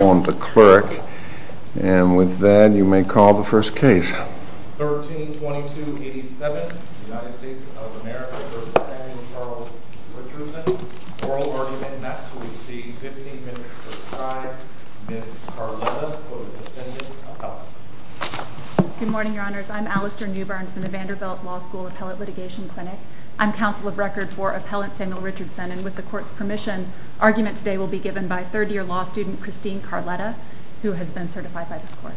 on the clerk, and with that you may call the first case. 13-22-87, United States of America v. Samuel Charles Richardson, oral argument, and that's where we see 15 minutes for time, Ms. Carlotta for the defendant's appellate. Good morning, your honors. I'm Alastair Newbern from the Vanderbilt Law School Appellate Litigation Clinic. I'm counsel of record for appellant Samuel Richardson, and with the court's permission, argument today will be given by third-year law student Christine Carlotta, who has been certified by this court.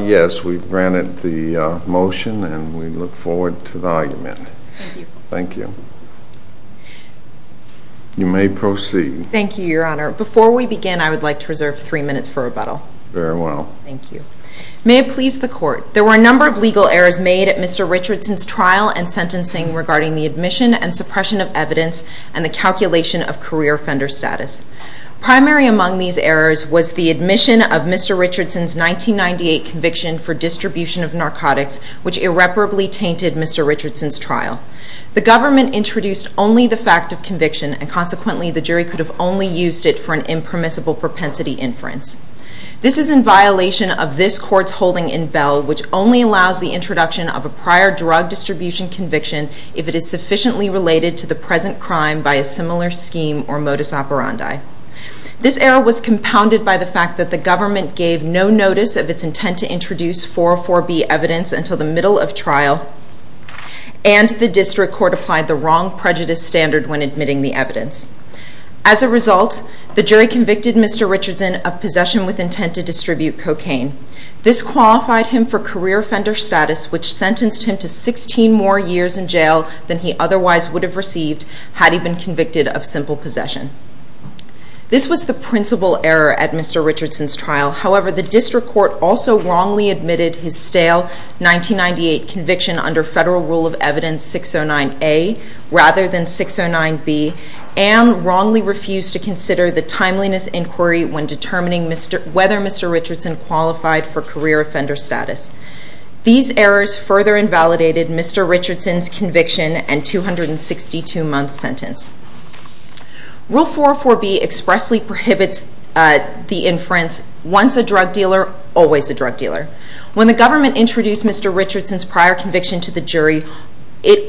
Yes, we've granted the motion, and we look forward to the argument. Thank you. You may proceed. Thank you, your honor. Before we begin, I would like to reserve three minutes for rebuttal. Very well. Thank you. May it please the court, there were a number of legal errors made at Mr. Richardson's trial and sentencing regarding the admission and suppression of evidence and the calculation of career offender status. Primary among these errors was the admission of Mr. Richardson's 1998 conviction for distribution of narcotics, which irreparably tainted Mr. Richardson's trial. The government introduced only the fact of conviction, and consequently the jury could have only used it for an impermissible propensity inference. This is in violation of this court's holding in Bell, which only allows the introduction of a prior drug distribution conviction if it is sufficiently related to the present crime by a similar scheme or modus operandi. This error was compounded by the fact that the government gave no notice of its intent to introduce 404B evidence until the middle of trial, and the district court applied the wrong prejudice standard when admitting the evidence. As a result, the jury convicted Mr. Richardson of possession with intent to distribute cocaine. This qualified him for career offender status, which sentenced him to 16 more years in jail than he otherwise would have received had he been convicted of simple possession. This was the principal error at Mr. Richardson's trial. However, the district court also wrongly admitted his stale 1998 conviction under federal rule of evidence 609A rather than 609B, and wrongly refused to consider the timeliness inquiry when determining whether Mr. Richardson qualified for career offender status. These errors further invalidated Mr. Richardson's conviction and 262-month sentence. Rule 404B expressly prohibits the inference, once a drug dealer, always a drug dealer. When the government introduced Mr. Richardson's prior conviction to the jury,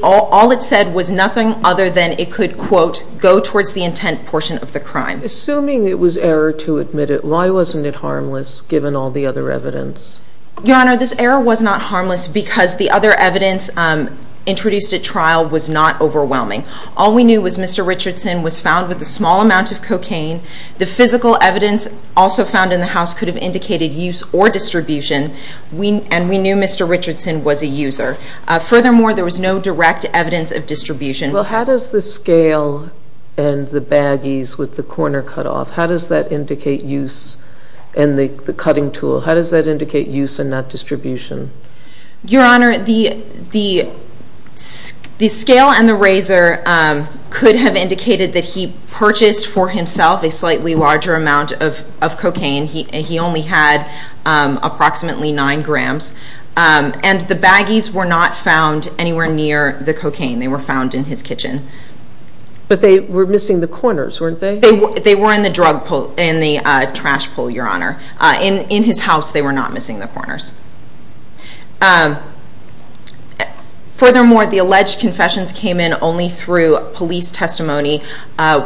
all it said was nothing other than it could, quote, go towards the intent portion of the crime. Assuming it was error to admit it, why wasn't it harmless given all the other evidence? Your Honor, this error was not harmless because the other evidence introduced at trial was not overwhelming. All we knew was Mr. Richardson was found with a small amount of cocaine. The physical evidence also found in the house could have indicated use or distribution, and we knew Mr. Richardson was a user. Furthermore, there was no direct evidence of distribution. Well, how does the scale and the baggies with the corner cut off, how does that indicate use in the cutting tool? How does that indicate use and not distribution? Your Honor, the scale and the razor could have indicated that he purchased for himself a slightly larger amount of cocaine. He only had approximately nine grams, and the baggies were not found anywhere near the cocaine. They were found in his kitchen. But they were missing the corners, weren't they? They were in the trash pull, Your Honor. In his house, they were not missing the corners. Furthermore, the alleged confessions came in only through police testimony,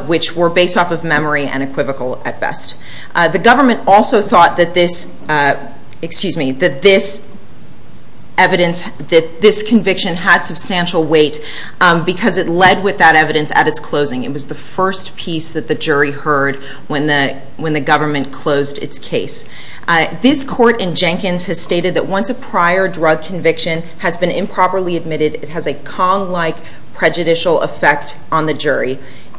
which were based off of memory and equivocal at best. The government also thought that this, excuse me, that this evidence, that this conviction had substantial weight because it led with that evidence at its closing. It was the first piece that the jury heard when the government closed its case. This court in Jenkins has stated that once a prior drug conviction has been improperly admitted, it has a Kong-like prejudicial effect on the jury,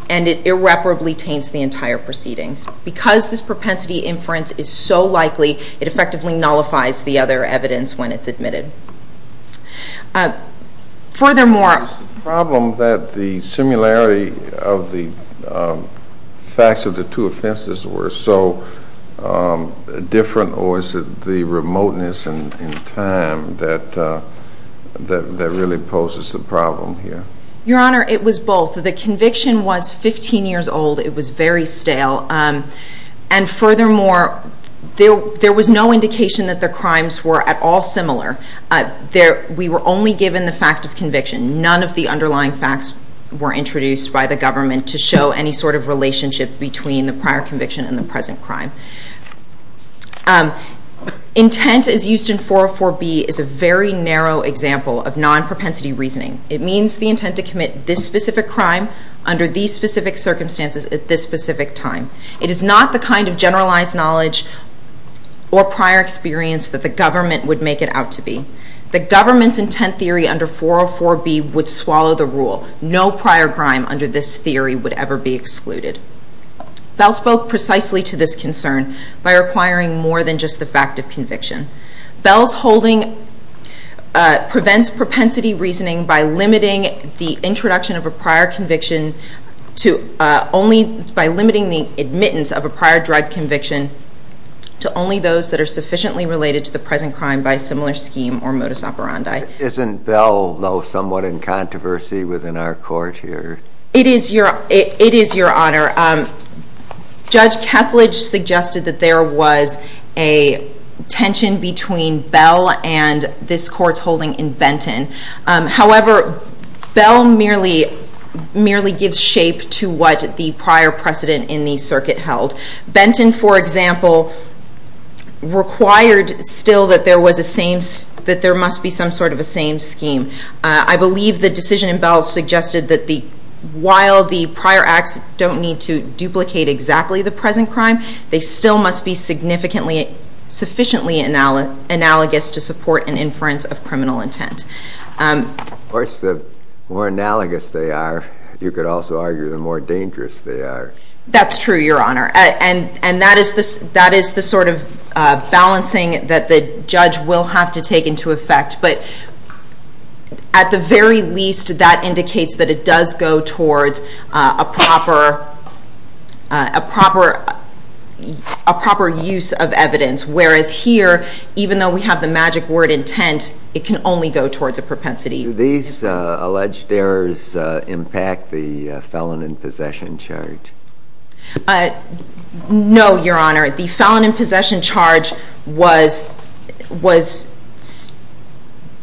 and it irreparably taints the entire proceedings. Because this propensity inference is so likely, it effectively nullifies the other evidence when it's admitted. Furthermore... Was the problem that the similarity of the facts of the two offenses were so different, or is it the remoteness in time that really poses the problem here? Your Honor, it was both. The conviction was 15 years old. It was very stale. And furthermore, there was no indication that the crimes were at all similar. We were only given the fact of conviction. None of the underlying facts were introduced by the government to show any sort of relationship between the prior conviction and the present crime. Intent, as used in 404B, is a very narrow example of non-propensity reasoning. It means the intent to commit this specific crime under these specific circumstances at this specific time. It is not the kind of generalized knowledge or prior experience that the government would make it out to be. The government's intent theory under 404B would swallow the rule. No prior crime under this theory would ever be excluded. Bell spoke precisely to this concern by requiring more than just the fact of conviction. Bell's holding prevents propensity reasoning by limiting the introduction of a prior conviction to only— by limiting the admittance of a prior drug conviction to only those that are sufficiently related to the present crime by similar scheme or modus operandi. Isn't Bell, though, somewhat in controversy within our court here? It is, Your Honor. Judge Kethledge suggested that there was a tension between Bell and this court's holding in Benton. However, Bell merely gives shape to what the prior precedent in the circuit held. Benton, for example, required still that there was a same—that there must be some sort of a same scheme. I believe the decision in Bell suggested that while the prior acts don't need to duplicate exactly the present crime, they still must be sufficiently analogous to support an inference of criminal intent. Of course, the more analogous they are, you could also argue the more dangerous they are. That's true, Your Honor. And that is the sort of balancing that the judge will have to take into effect. But at the very least, that indicates that it does go towards a proper use of evidence, whereas here, even though we have the magic word intent, it can only go towards a propensity. Do these alleged errors impact the felon in possession charge? No, Your Honor. The felon in possession charge was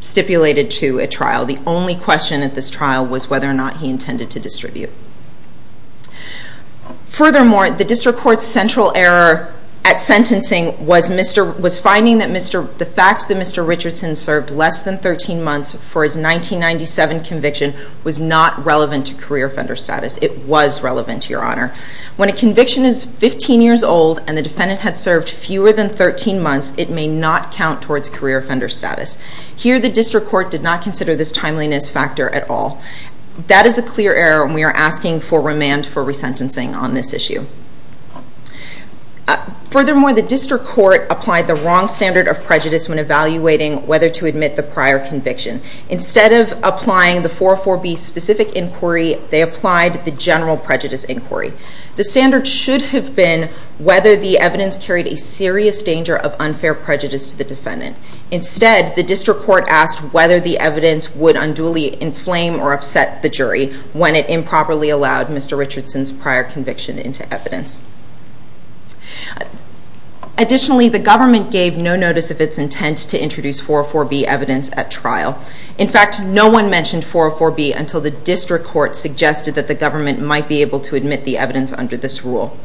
stipulated to a trial. The only question at this trial was whether or not he intended to distribute. Furthermore, the district court's central error at sentencing was finding that the fact that Mr. Richardson served less than 13 months for his 1997 conviction was not relevant to career offender status. It was relevant to, Your Honor. When a conviction is 15 years old and the defendant had served fewer than 13 months, it may not count towards career offender status. Here, the district court did not consider this timeliness factor at all. That is a clear error, and we are asking for remand for resentencing on this issue. Furthermore, the district court applied the wrong standard of prejudice when evaluating whether to admit the prior conviction. Instead of applying the 404B specific inquiry, they applied the general prejudice inquiry. The standard should have been whether the evidence carried a serious danger of unfair prejudice to the defendant. Instead, the district court asked whether the evidence would unduly inflame or upset the jury when it improperly allowed Mr. Richardson's prior conviction into evidence. Additionally, the government gave no notice of its intent to introduce 404B evidence at trial. In fact, no one mentioned 404B until the district court suggested that the government might be able to admit the evidence under this rule.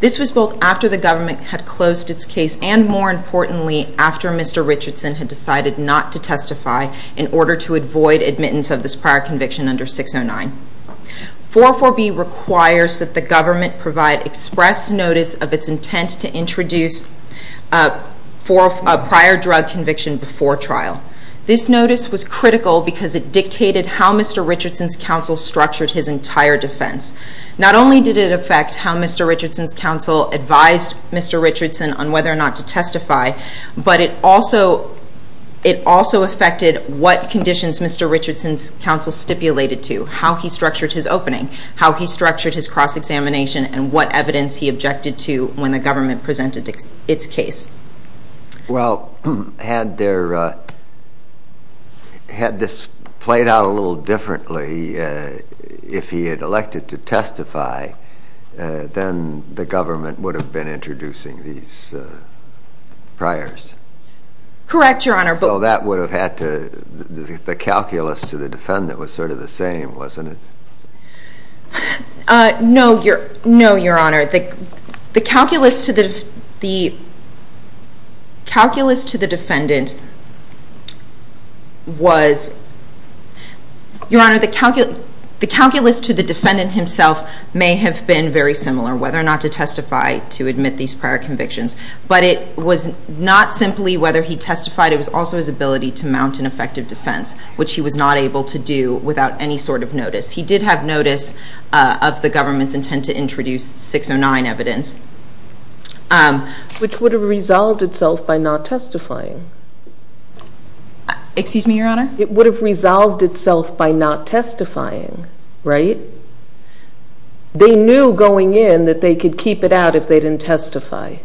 This was both after the government had closed its case and, more importantly, after Mr. Richardson had decided not to testify in order to avoid admittance of this prior conviction under 609. 404B requires that the government provide express notice of its intent to introduce a prior drug conviction before trial. This notice was critical because it dictated how Mr. Richardson's counsel structured his entire defense. Not only did it affect how Mr. Richardson's counsel advised Mr. Richardson on whether or not to testify, but it also affected what conditions Mr. Richardson's counsel stipulated to, how he structured his opening, how he structured his cross-examination, and what evidence he objected to when the government presented its case. Well, had this played out a little differently, if he had elected to testify, then the government would have been introducing these priors. Correct, Your Honor. So that would have had to, the calculus to the defendant was sort of the same, wasn't it? No, Your Honor. The calculus to the defendant was, Your Honor, the calculus to the defendant himself may have been very similar, whether or not to testify to admit these prior convictions. But it was not simply whether he testified, it was also his ability to mount an effective defense, which he was not able to do without any sort of notice. He did have notice of the government's intent to introduce 609 evidence. Which would have resolved itself by not testifying. Excuse me, Your Honor? It would have resolved itself by not testifying, right? They knew going in that they could keep it out if they didn't testify.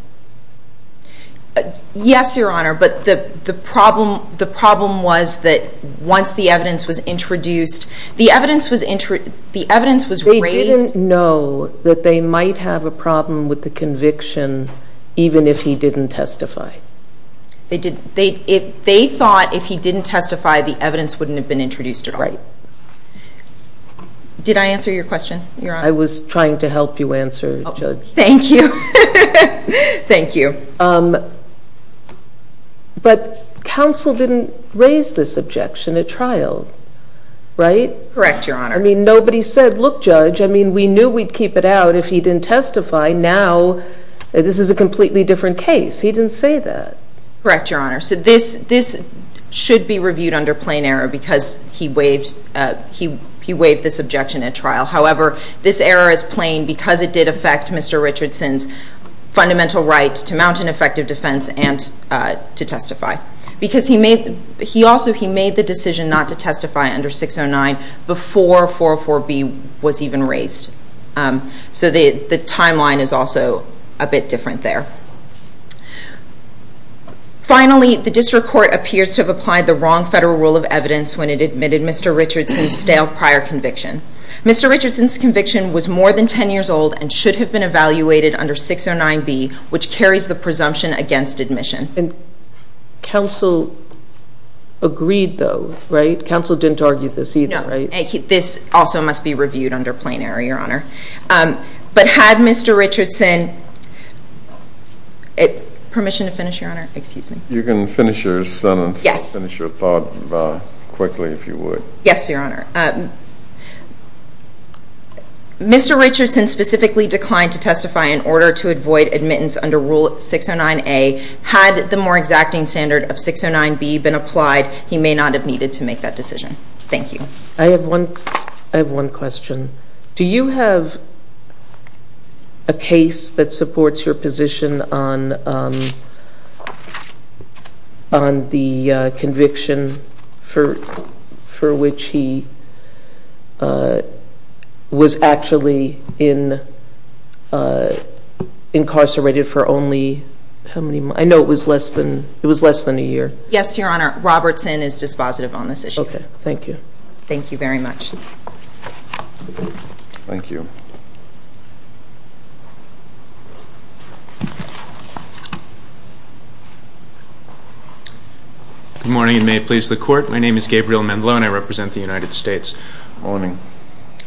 Yes, Your Honor, but the problem was that once the evidence was introduced, the evidence was raised... They didn't know that they might have a problem with the conviction even if he didn't testify. They thought if he didn't testify, the evidence wouldn't have been introduced at all. Right. Did I answer your question, Your Honor? I was trying to help you answer, Judge. Thank you. Thank you. But counsel didn't raise this objection at trial, right? Correct, Your Honor. I mean, nobody said, look, Judge, I mean, we knew we'd keep it out if he didn't testify. Now, this is a completely different case. He didn't say that. Correct, Your Honor. So this should be reviewed under plain error because he waived this objection at trial. However, this error is plain because it did affect Mr. Richardson's fundamental right to mount an effective defense and to testify. Because he made the decision not to testify under 609 before 404B was even raised. So the timeline is also a bit different there. Finally, the district court appears to have applied the wrong federal rule of evidence when it admitted Mr. Richardson's stale prior conviction. Mr. Richardson's conviction was more than 10 years old and should have been evaluated under 609B, which carries the presumption against admission. And counsel agreed, though, right? Counsel didn't argue this either, right? No. This also must be reviewed under plain error, Your Honor. But had Mr. Richardson ---- permission to finish, Your Honor? Excuse me. You can finish your sentence. Yes. Finish your thought quickly, if you would. Yes, Your Honor. Mr. Richardson specifically declined to testify in order to avoid admittance under Rule 609A. Had the more exacting standard of 609B been applied, he may not have needed to make that decision. Thank you. I have one question. Do you have a case that supports your position on the conviction for which he was actually incarcerated for only how many months? I know it was less than a year. Yes, Your Honor. Robertson is dispositive on this issue. Okay. Thank you. Thank you very much. Thank you. Good morning, and may it please the Court. My name is Gabriel Mendlow, and I represent the United States. Good morning.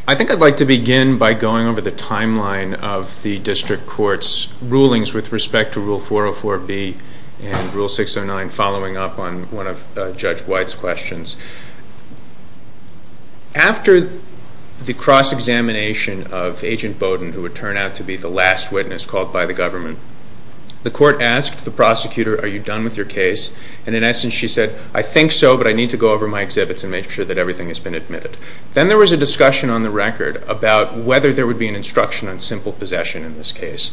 I think I'd like to begin by going over the timeline of the District Court's rulings with respect to Rule 404B and Rule 609, and following up on one of Judge White's questions. After the cross-examination of Agent Bowden, who would turn out to be the last witness called by the government, the Court asked the prosecutor, are you done with your case? And in essence, she said, I think so, but I need to go over my exhibits and make sure that everything has been admitted. Then there was a discussion on the record about whether there would be an instruction on simple possession in this case.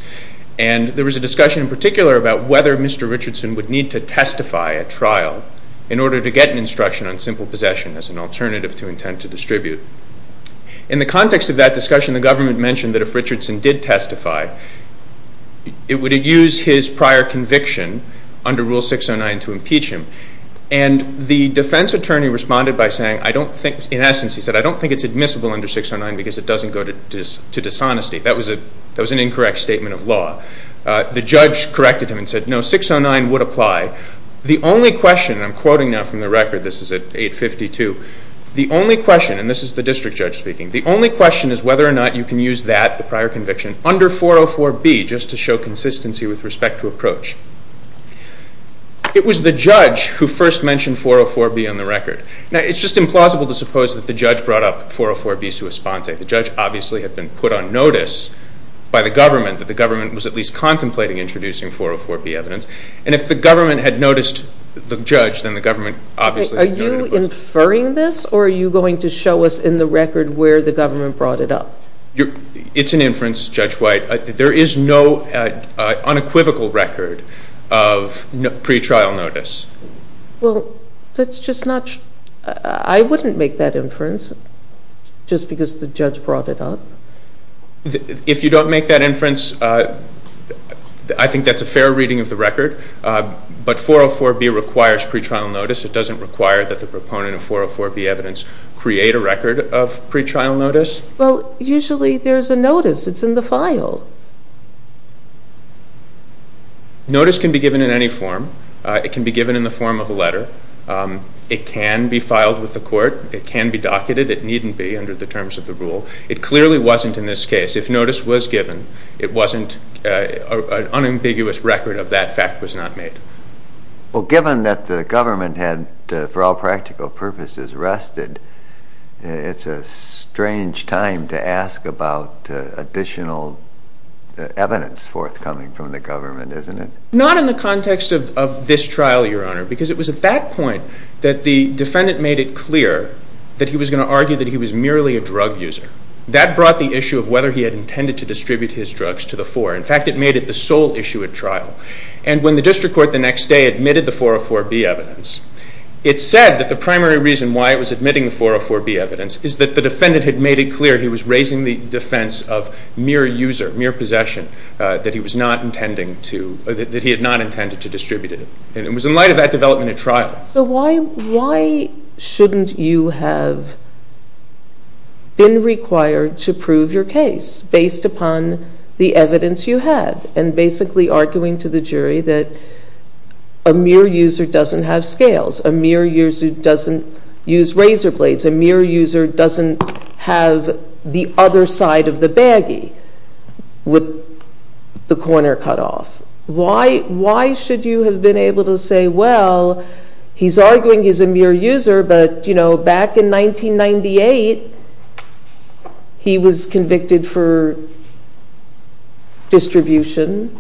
And there was a discussion in particular about whether Mr. Richardson would need to testify at trial in order to get an instruction on simple possession as an alternative to intent to distribute. In the context of that discussion, the government mentioned that if Richardson did testify, it would use his prior conviction under Rule 609 to impeach him. And the defense attorney responded by saying, I don't think, in essence, he said, I don't think it's admissible under 609 because it doesn't go to dishonesty. That was an incorrect statement of law. The judge corrected him and said, no, 609 would apply. The only question, and I'm quoting now from the record, this is at 852, the only question, and this is the district judge speaking, the only question is whether or not you can use that, the prior conviction, under 404B just to show consistency with respect to approach. It was the judge who first mentioned 404B on the record. Now, it's just implausible to suppose that the judge brought up 404B sua sponte. The judge, obviously, had been put on notice by the government that the government was at least contemplating introducing 404B evidence. And if the government had noticed the judge, then the government, obviously… Are you inferring this or are you going to show us in the record where the government brought it up? It's an inference, Judge White. There is no unequivocal record of pretrial notice. Well, that's just not… I wouldn't make that inference just because the judge brought it up. If you don't make that inference, I think that's a fair reading of the record. But 404B requires pretrial notice. It doesn't require that the proponent of 404B evidence create a record of pretrial notice. Well, usually there's a notice. It's in the file. Notice can be given in any form. It can be given in the form of a letter. It can be filed with the court. It can be docketed. It needn't be under the terms of the rule. It clearly wasn't in this case. If notice was given, an unambiguous record of that fact was not made. Well, given that the government had, for all practical purposes, rested, it's a strange time to ask about additional evidence forthcoming from the government, isn't it? Not in the context of this trial, Your Honor, because it was at that point that the defendant made it clear that he was going to argue that he was merely a drug user. That brought the issue of whether he had intended to distribute his drugs to the four. In fact, it made it the sole issue at trial. And when the district court the next day admitted the 404B evidence, it said that the primary reason why it was admitting the 404B evidence is that the defendant had made it clear he was raising the defense of mere user, mere possession, that he was not intending to, that he had not intended to distribute it. And it was in light of that development at trial. So why shouldn't you have been required to prove your case based upon the evidence you had and basically arguing to the jury that a mere user doesn't have scales, a mere user doesn't use razor blades, a mere user doesn't have the other side of the baggie with the corner cut off? Why should you have been able to say, well, he's arguing he's a mere user, but, you know, back in 1998, he was convicted for distribution?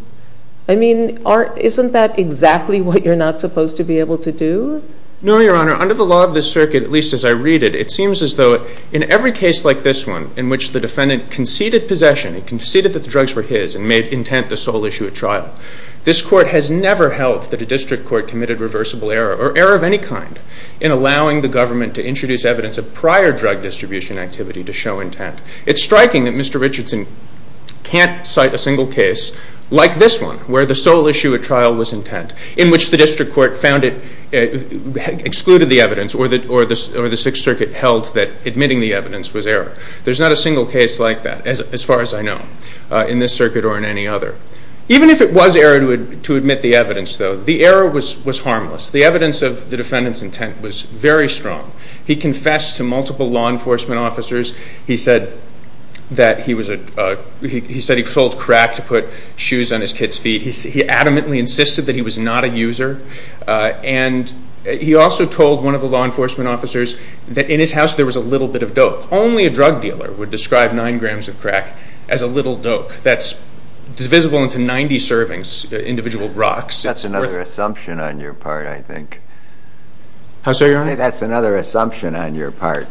I mean, isn't that exactly what you're not supposed to be able to do? No, Your Honor. Under the law of this circuit, at least as I read it, it seems as though in every case like this one in which the defendant conceded possession, he conceded that the drugs were his and made intent the sole issue at trial, this court has never held that a district court committed reversible error or error of any kind in allowing the government to introduce evidence of prior drug distribution activity to show intent. It's striking that Mr. Richardson can't cite a single case like this one where the sole issue at trial was intent, in which the district court excluded the evidence or the Sixth Circuit held that admitting the evidence was error. There's not a single case like that as far as I know in this circuit or in any other. Even if it was error to admit the evidence, though, the error was harmless. The evidence of the defendant's intent was very strong. He confessed to multiple law enforcement officers. He said he sold crack to put shoes on his kids' feet. He adamantly insisted that he was not a user, and he also told one of the law enforcement officers that in his house there was a little bit of dope. Only a drug dealer would describe 9 grams of crack as a little dope that's divisible into 90 servings, individual rocks. That's another assumption on your part, I think. How so, Your Honor? I think that's another assumption on your part,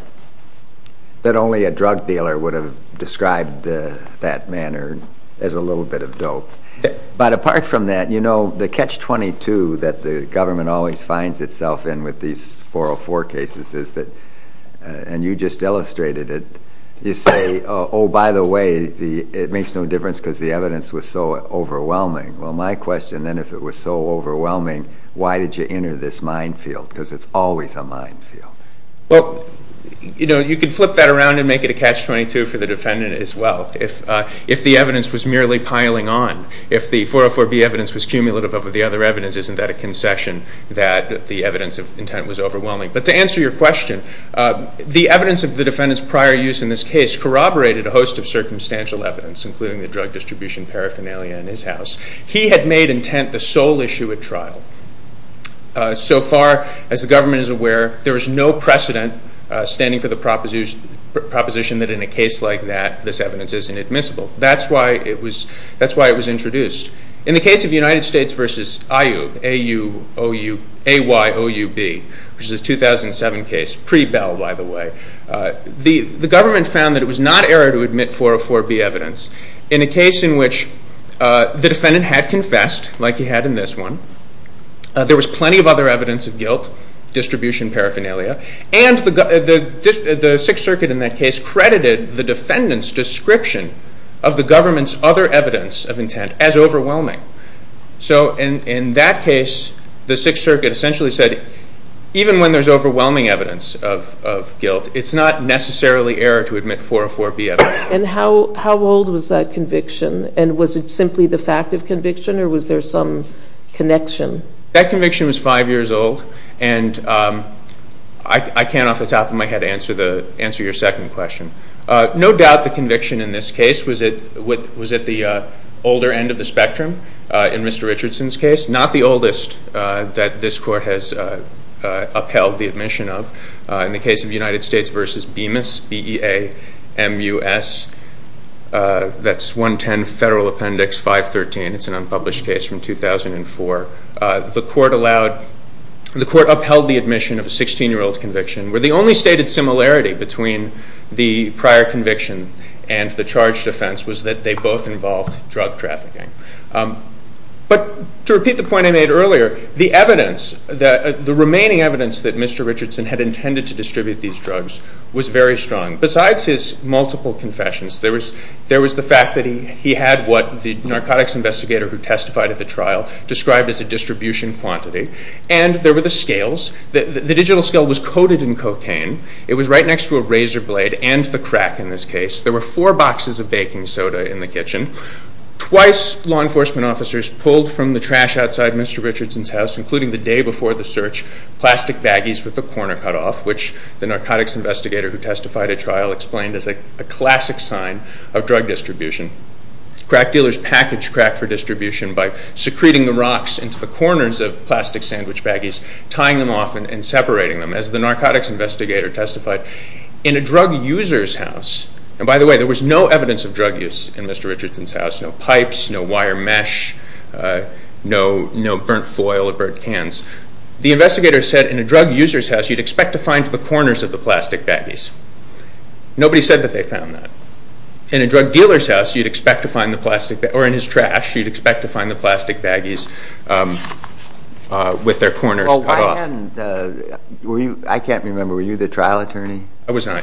that only a drug dealer would have described that manner as a little bit of dope. But apart from that, you know, the catch-22 that the government always finds itself in with these 404 cases is that, and you just illustrated it, you say, oh, by the way, it makes no difference because the evidence was so overwhelming. Well, my question then, if it was so overwhelming, why did you enter this minefield? Because it's always a minefield. Well, you know, you could flip that around and make it a catch-22 for the defendant as well. If the evidence was merely piling on, if the 404B evidence was cumulative over the other evidence, isn't that a concession that the evidence of intent was overwhelming? But to answer your question, the evidence of the defendant's prior use in this case corroborated a host of circumstantial evidence, including the drug distribution paraphernalia in his house. He had made intent the sole issue at trial. So far, as the government is aware, there is no precedent standing for the proposition that in a case like that, this evidence isn't admissible. That's why it was introduced. In the case of United States v. IU, A-U-O-U, A-Y-O-U-B, which is a 2007 case, pre-Bell, by the way, the government found that it was not error to admit 404B evidence. In a case in which the defendant had confessed, like he had in this one, there was plenty of other evidence of guilt, distribution paraphernalia, and the Sixth Circuit in that case credited the defendant's description of the government's other evidence of intent as overwhelming. So in that case, the Sixth Circuit essentially said, even when there's overwhelming evidence of guilt, it's not necessarily error to admit 404B evidence. And how old was that conviction, and was it simply the fact of conviction, or was there some connection? That conviction was five years old, and I can't off the top of my head answer your second question. No doubt the conviction in this case was at the older end of the spectrum in Mr. Richardson's case, not the oldest that this Court has upheld the admission of. In the case of United States v. Bemis, B-E-A-M-U-S, that's 110 Federal Appendix 513. It's an unpublished case from 2004. The Court upheld the admission of a 16-year-old conviction where the only stated similarity between the prior conviction and the charged offense was that they both involved drug trafficking. But to repeat the point I made earlier, the remaining evidence that Mr. Richardson had intended to distribute these drugs was very strong. Besides his multiple confessions, there was the fact that he had what the narcotics investigator who testified at the trial described as a distribution quantity, and there were the scales. The digital scale was coated in cocaine. It was right next to a razor blade and the crack in this case. There were four boxes of baking soda in the kitchen. Twice law enforcement officers pulled from the trash outside Mr. Richardson's house, including the day before the search, plastic baggies with the corner cut off, which the narcotics investigator who testified at trial explained as a classic sign of drug distribution. Crack dealers package crack for distribution by secreting the rocks into the corners of plastic sandwich baggies, tying them off and separating them, as the narcotics investigator testified. In a drug user's house, and by the way, there was no evidence of drug use in Mr. Richardson's house, no pipes, no wire mesh, no burnt foil or burnt cans. The investigator said in a drug user's house you'd expect to find the corners of the plastic baggies. Nobody said that they found that. In a drug dealer's house you'd expect to find the plastic baggies, or in his trash, you'd expect to find the plastic baggies with their corners cut off. And I can't remember, were you the trial attorney? I was not.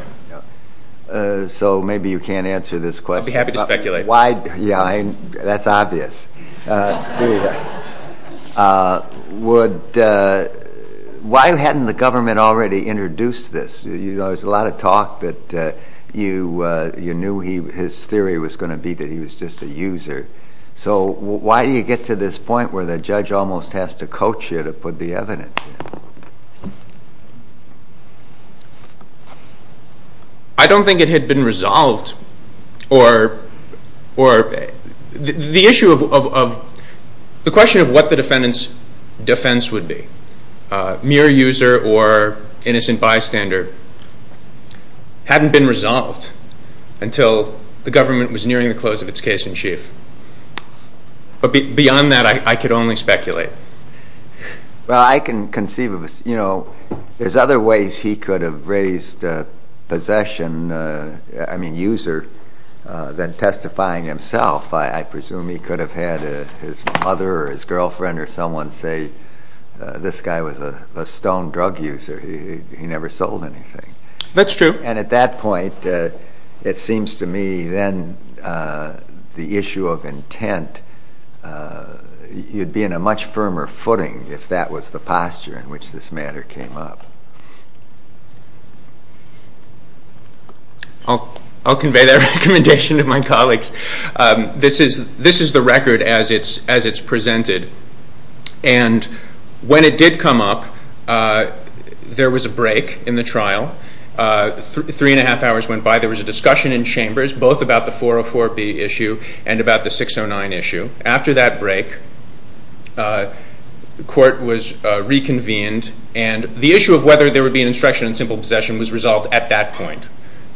So maybe you can't answer this question. I'd be happy to speculate. Yeah, that's obvious. Why hadn't the government already introduced this? There's a lot of talk that you knew his theory was going to be that he was just a user. So why do you get to this point where the judge almost has to coach you to put the evidence in? I don't think it had been resolved. The question of what the defendant's defense would be, mere user or innocent bystander, hadn't been resolved until the government was nearing the close of its case in chief. But beyond that I could only speculate. Well, I can conceive of, you know, there's other ways he could have raised possession, I mean user, than testifying himself. I presume he could have had his mother or his girlfriend or someone say, this guy was a stone drug user, he never sold anything. That's true. And at that point it seems to me then the issue of intent, you'd be in a much firmer footing if that was the posture in which this matter came up. I'll convey that recommendation to my colleagues. This is the record as it's presented. And when it did come up, there was a break in the trial. Three and a half hours went by. There was a discussion in chambers both about the 404B issue and about the 609 issue. After that break, the court was reconvened and the issue of whether there would be an instruction on simple possession was resolved at that point.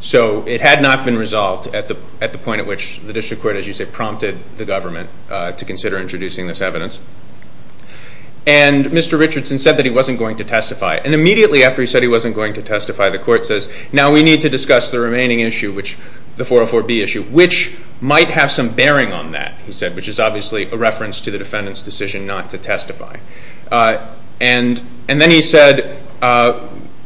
So it had not been resolved at the point at which the district court, as you say, prompted the government to consider introducing this evidence. And Mr. Richardson said that he wasn't going to testify. And immediately after he said he wasn't going to testify, the court says, now we need to discuss the remaining issue, the 404B issue, which might have some bearing on that, he said, which is obviously a reference to the defendant's decision not to testify. And then he said,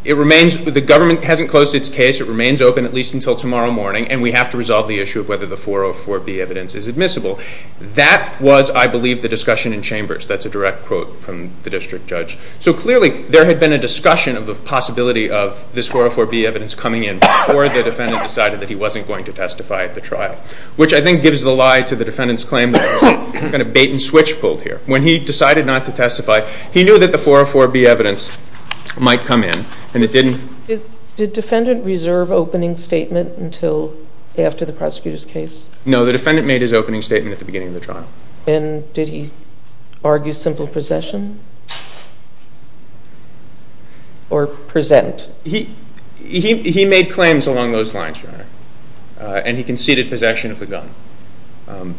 it remains, the government hasn't closed its case, it remains open at least until tomorrow morning, and we have to resolve the issue of whether the 404B evidence is admissible. That was, I believe, the discussion in chambers. That's a direct quote from the district judge. So clearly there had been a discussion of the possibility of this 404B evidence coming in before the defendant decided that he wasn't going to testify at the trial, which I think gives the lie to the defendant's claim that there was a bait and switch pulled here. When he decided not to testify, he knew that the 404B evidence might come in, and it didn't. Did the defendant reserve opening statement until after the prosecutor's case? No, the defendant made his opening statement at the beginning of the trial. And did he argue simple possession or present? He made claims along those lines, Your Honor, and he conceded possession of the gun.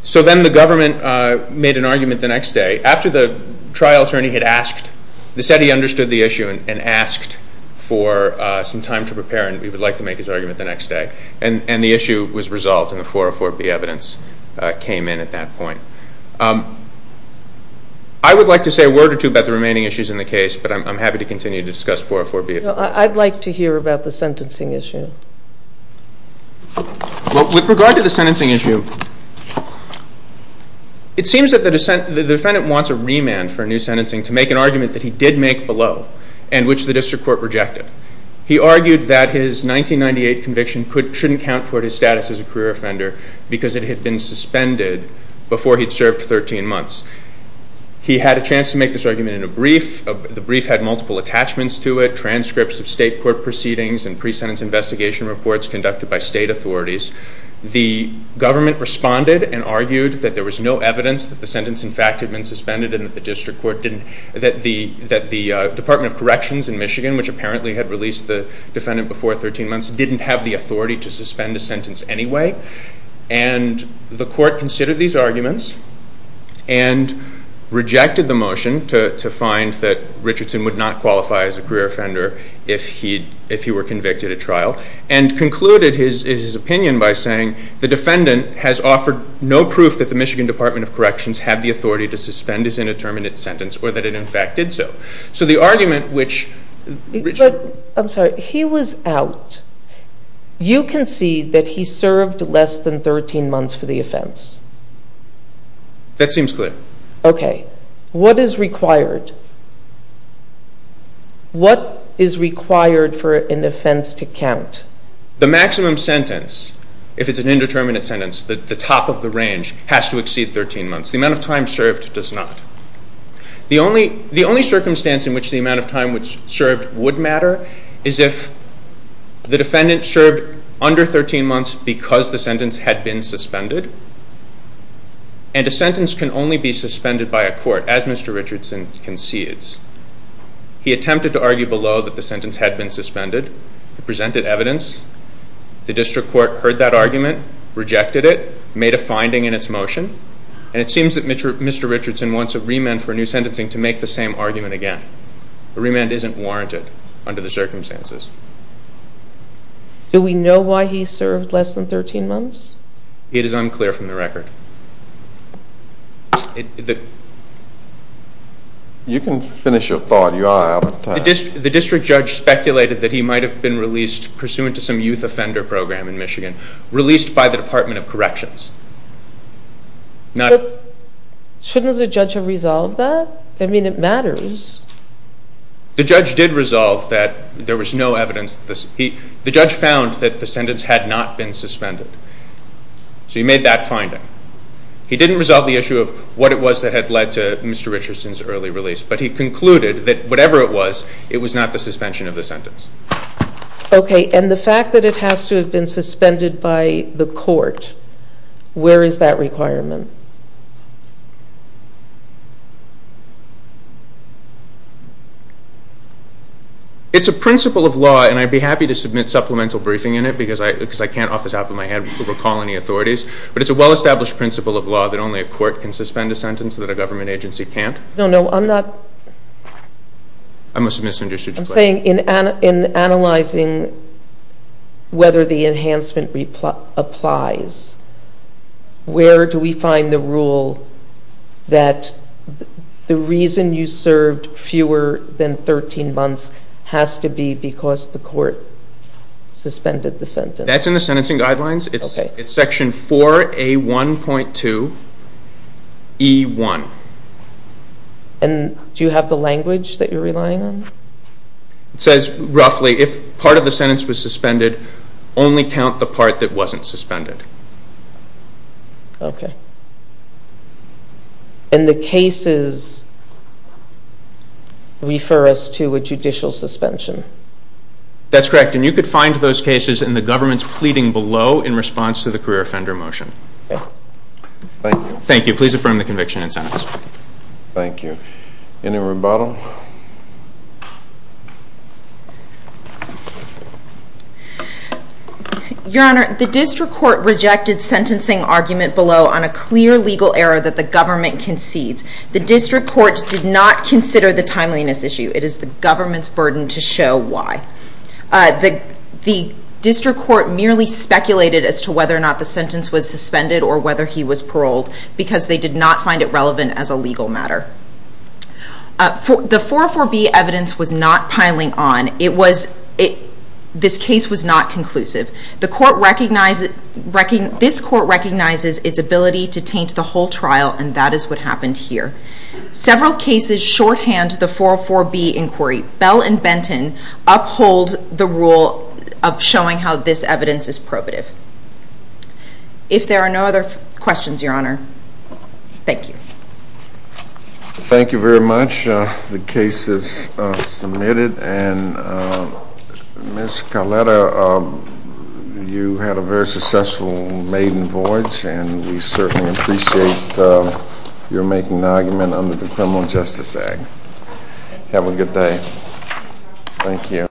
So then the government made an argument the next day. After the trial attorney had asked, they said he understood the issue and asked for some time to prepare and he would like to make his argument the next day. And the issue was resolved and the 404B evidence came in at that point. I would like to say a word or two about the remaining issues in the case, but I'm happy to continue to discuss 404B. I'd like to hear about the sentencing issue. With regard to the sentencing issue, it seems that the defendant wants a remand for a new sentencing to make an argument that he did make below and which the district court rejected. He argued that his 1998 conviction shouldn't count toward his status as a career offender because it had been suspended before he'd served 13 months. He had a chance to make this argument in a brief. The brief had multiple attachments to it, transcripts of state court proceedings and pre-sentence investigation reports conducted by state authorities. The government responded and argued that there was no evidence that the sentence in fact had been suspended and that the district court didn't, that the Department of Corrections in Michigan, which apparently had released the defendant before 13 months, didn't have the authority to suspend a sentence anyway. And the court considered these arguments and rejected the motion to find that Richardson would not qualify as a career offender if he were convicted at trial and concluded his opinion by saying, the defendant has offered no proof that the Michigan Department of Corrections had the authority to suspend his indeterminate sentence or that it in fact did so. So the argument which... But, I'm sorry, he was out. You concede that he served less than 13 months for the offense. That seems clear. Okay. What is required? What is required for an offense to count? The maximum sentence, if it's an indeterminate sentence, the top of the range, has to exceed 13 months. The amount of time served does not. The only circumstance in which the amount of time served would matter is if the defendant served under 13 months because the sentence had been suspended and a sentence can only be suspended by a court, as Mr. Richardson concedes. He attempted to argue below that the sentence had been suspended. He presented evidence. The district court heard that argument, rejected it, made a finding in its motion, and it seems that Mr. Richardson wants a remand for new sentencing to make the same argument again. A remand isn't warranted under the circumstances. Do we know why he served less than 13 months? It is unclear from the record. You can finish your thought. You are out of time. The district judge speculated that he might have been released pursuant to some youth offender program in Michigan, released by the Department of Corrections. Shouldn't the judge have resolved that? I mean, it matters. The judge did resolve that there was no evidence. The judge found that the sentence had not been suspended, so he made that finding. He didn't resolve the issue of what it was that had led to Mr. Richardson's early release, but he concluded that whatever it was, it was not the suspension of the sentence. Okay, and the fact that it has to have been suspended by the court, where is that requirement? It's a principle of law, and I'd be happy to submit supplemental briefing in it, because I can't off the top of my head recall any authorities, but it's a well-established principle of law that only a court can suspend a sentence and that a government agency can't. No, no, I'm not... I must have misunderstood your question. I'm saying in analyzing whether the enhancement applies, where do we find the rule that the reason you served fewer than 13 months has to be because the court suspended the sentence? That's in the sentencing guidelines. It's section 4A1.2E1. And do you have the language that you're relying on? It says, roughly, if part of the sentence was suspended, only count the part that wasn't suspended. Okay. And the cases refer us to a judicial suspension? That's correct. And you could find those cases in the government's pleading below in response to the career offender motion. Thank you. Thank you. Please affirm the conviction and sentence. Thank you. Any rebuttal? Your Honor, the district court rejected sentencing argument below on a clear legal error that the government concedes. The district court did not consider the timeliness issue. It is the government's burden to show why. The district court merely speculated as to whether or not the sentence was suspended or whether he was paroled because they did not find it relevant as a legal matter. The 404B evidence was not piling on. This case was not conclusive. This court recognizes its ability to taint the whole trial, and that is what happened here. Several cases shorthand the 404B inquiry. Bell and Benton uphold the rule of showing how this evidence is probative. If there are no other questions, Your Honor, thank you. Thank you very much. The case is submitted. And Ms. Carletta, you had a very successful maiden voyage, and we certainly appreciate your making an argument under the Criminal Justice Act. Have a good day. Thank you.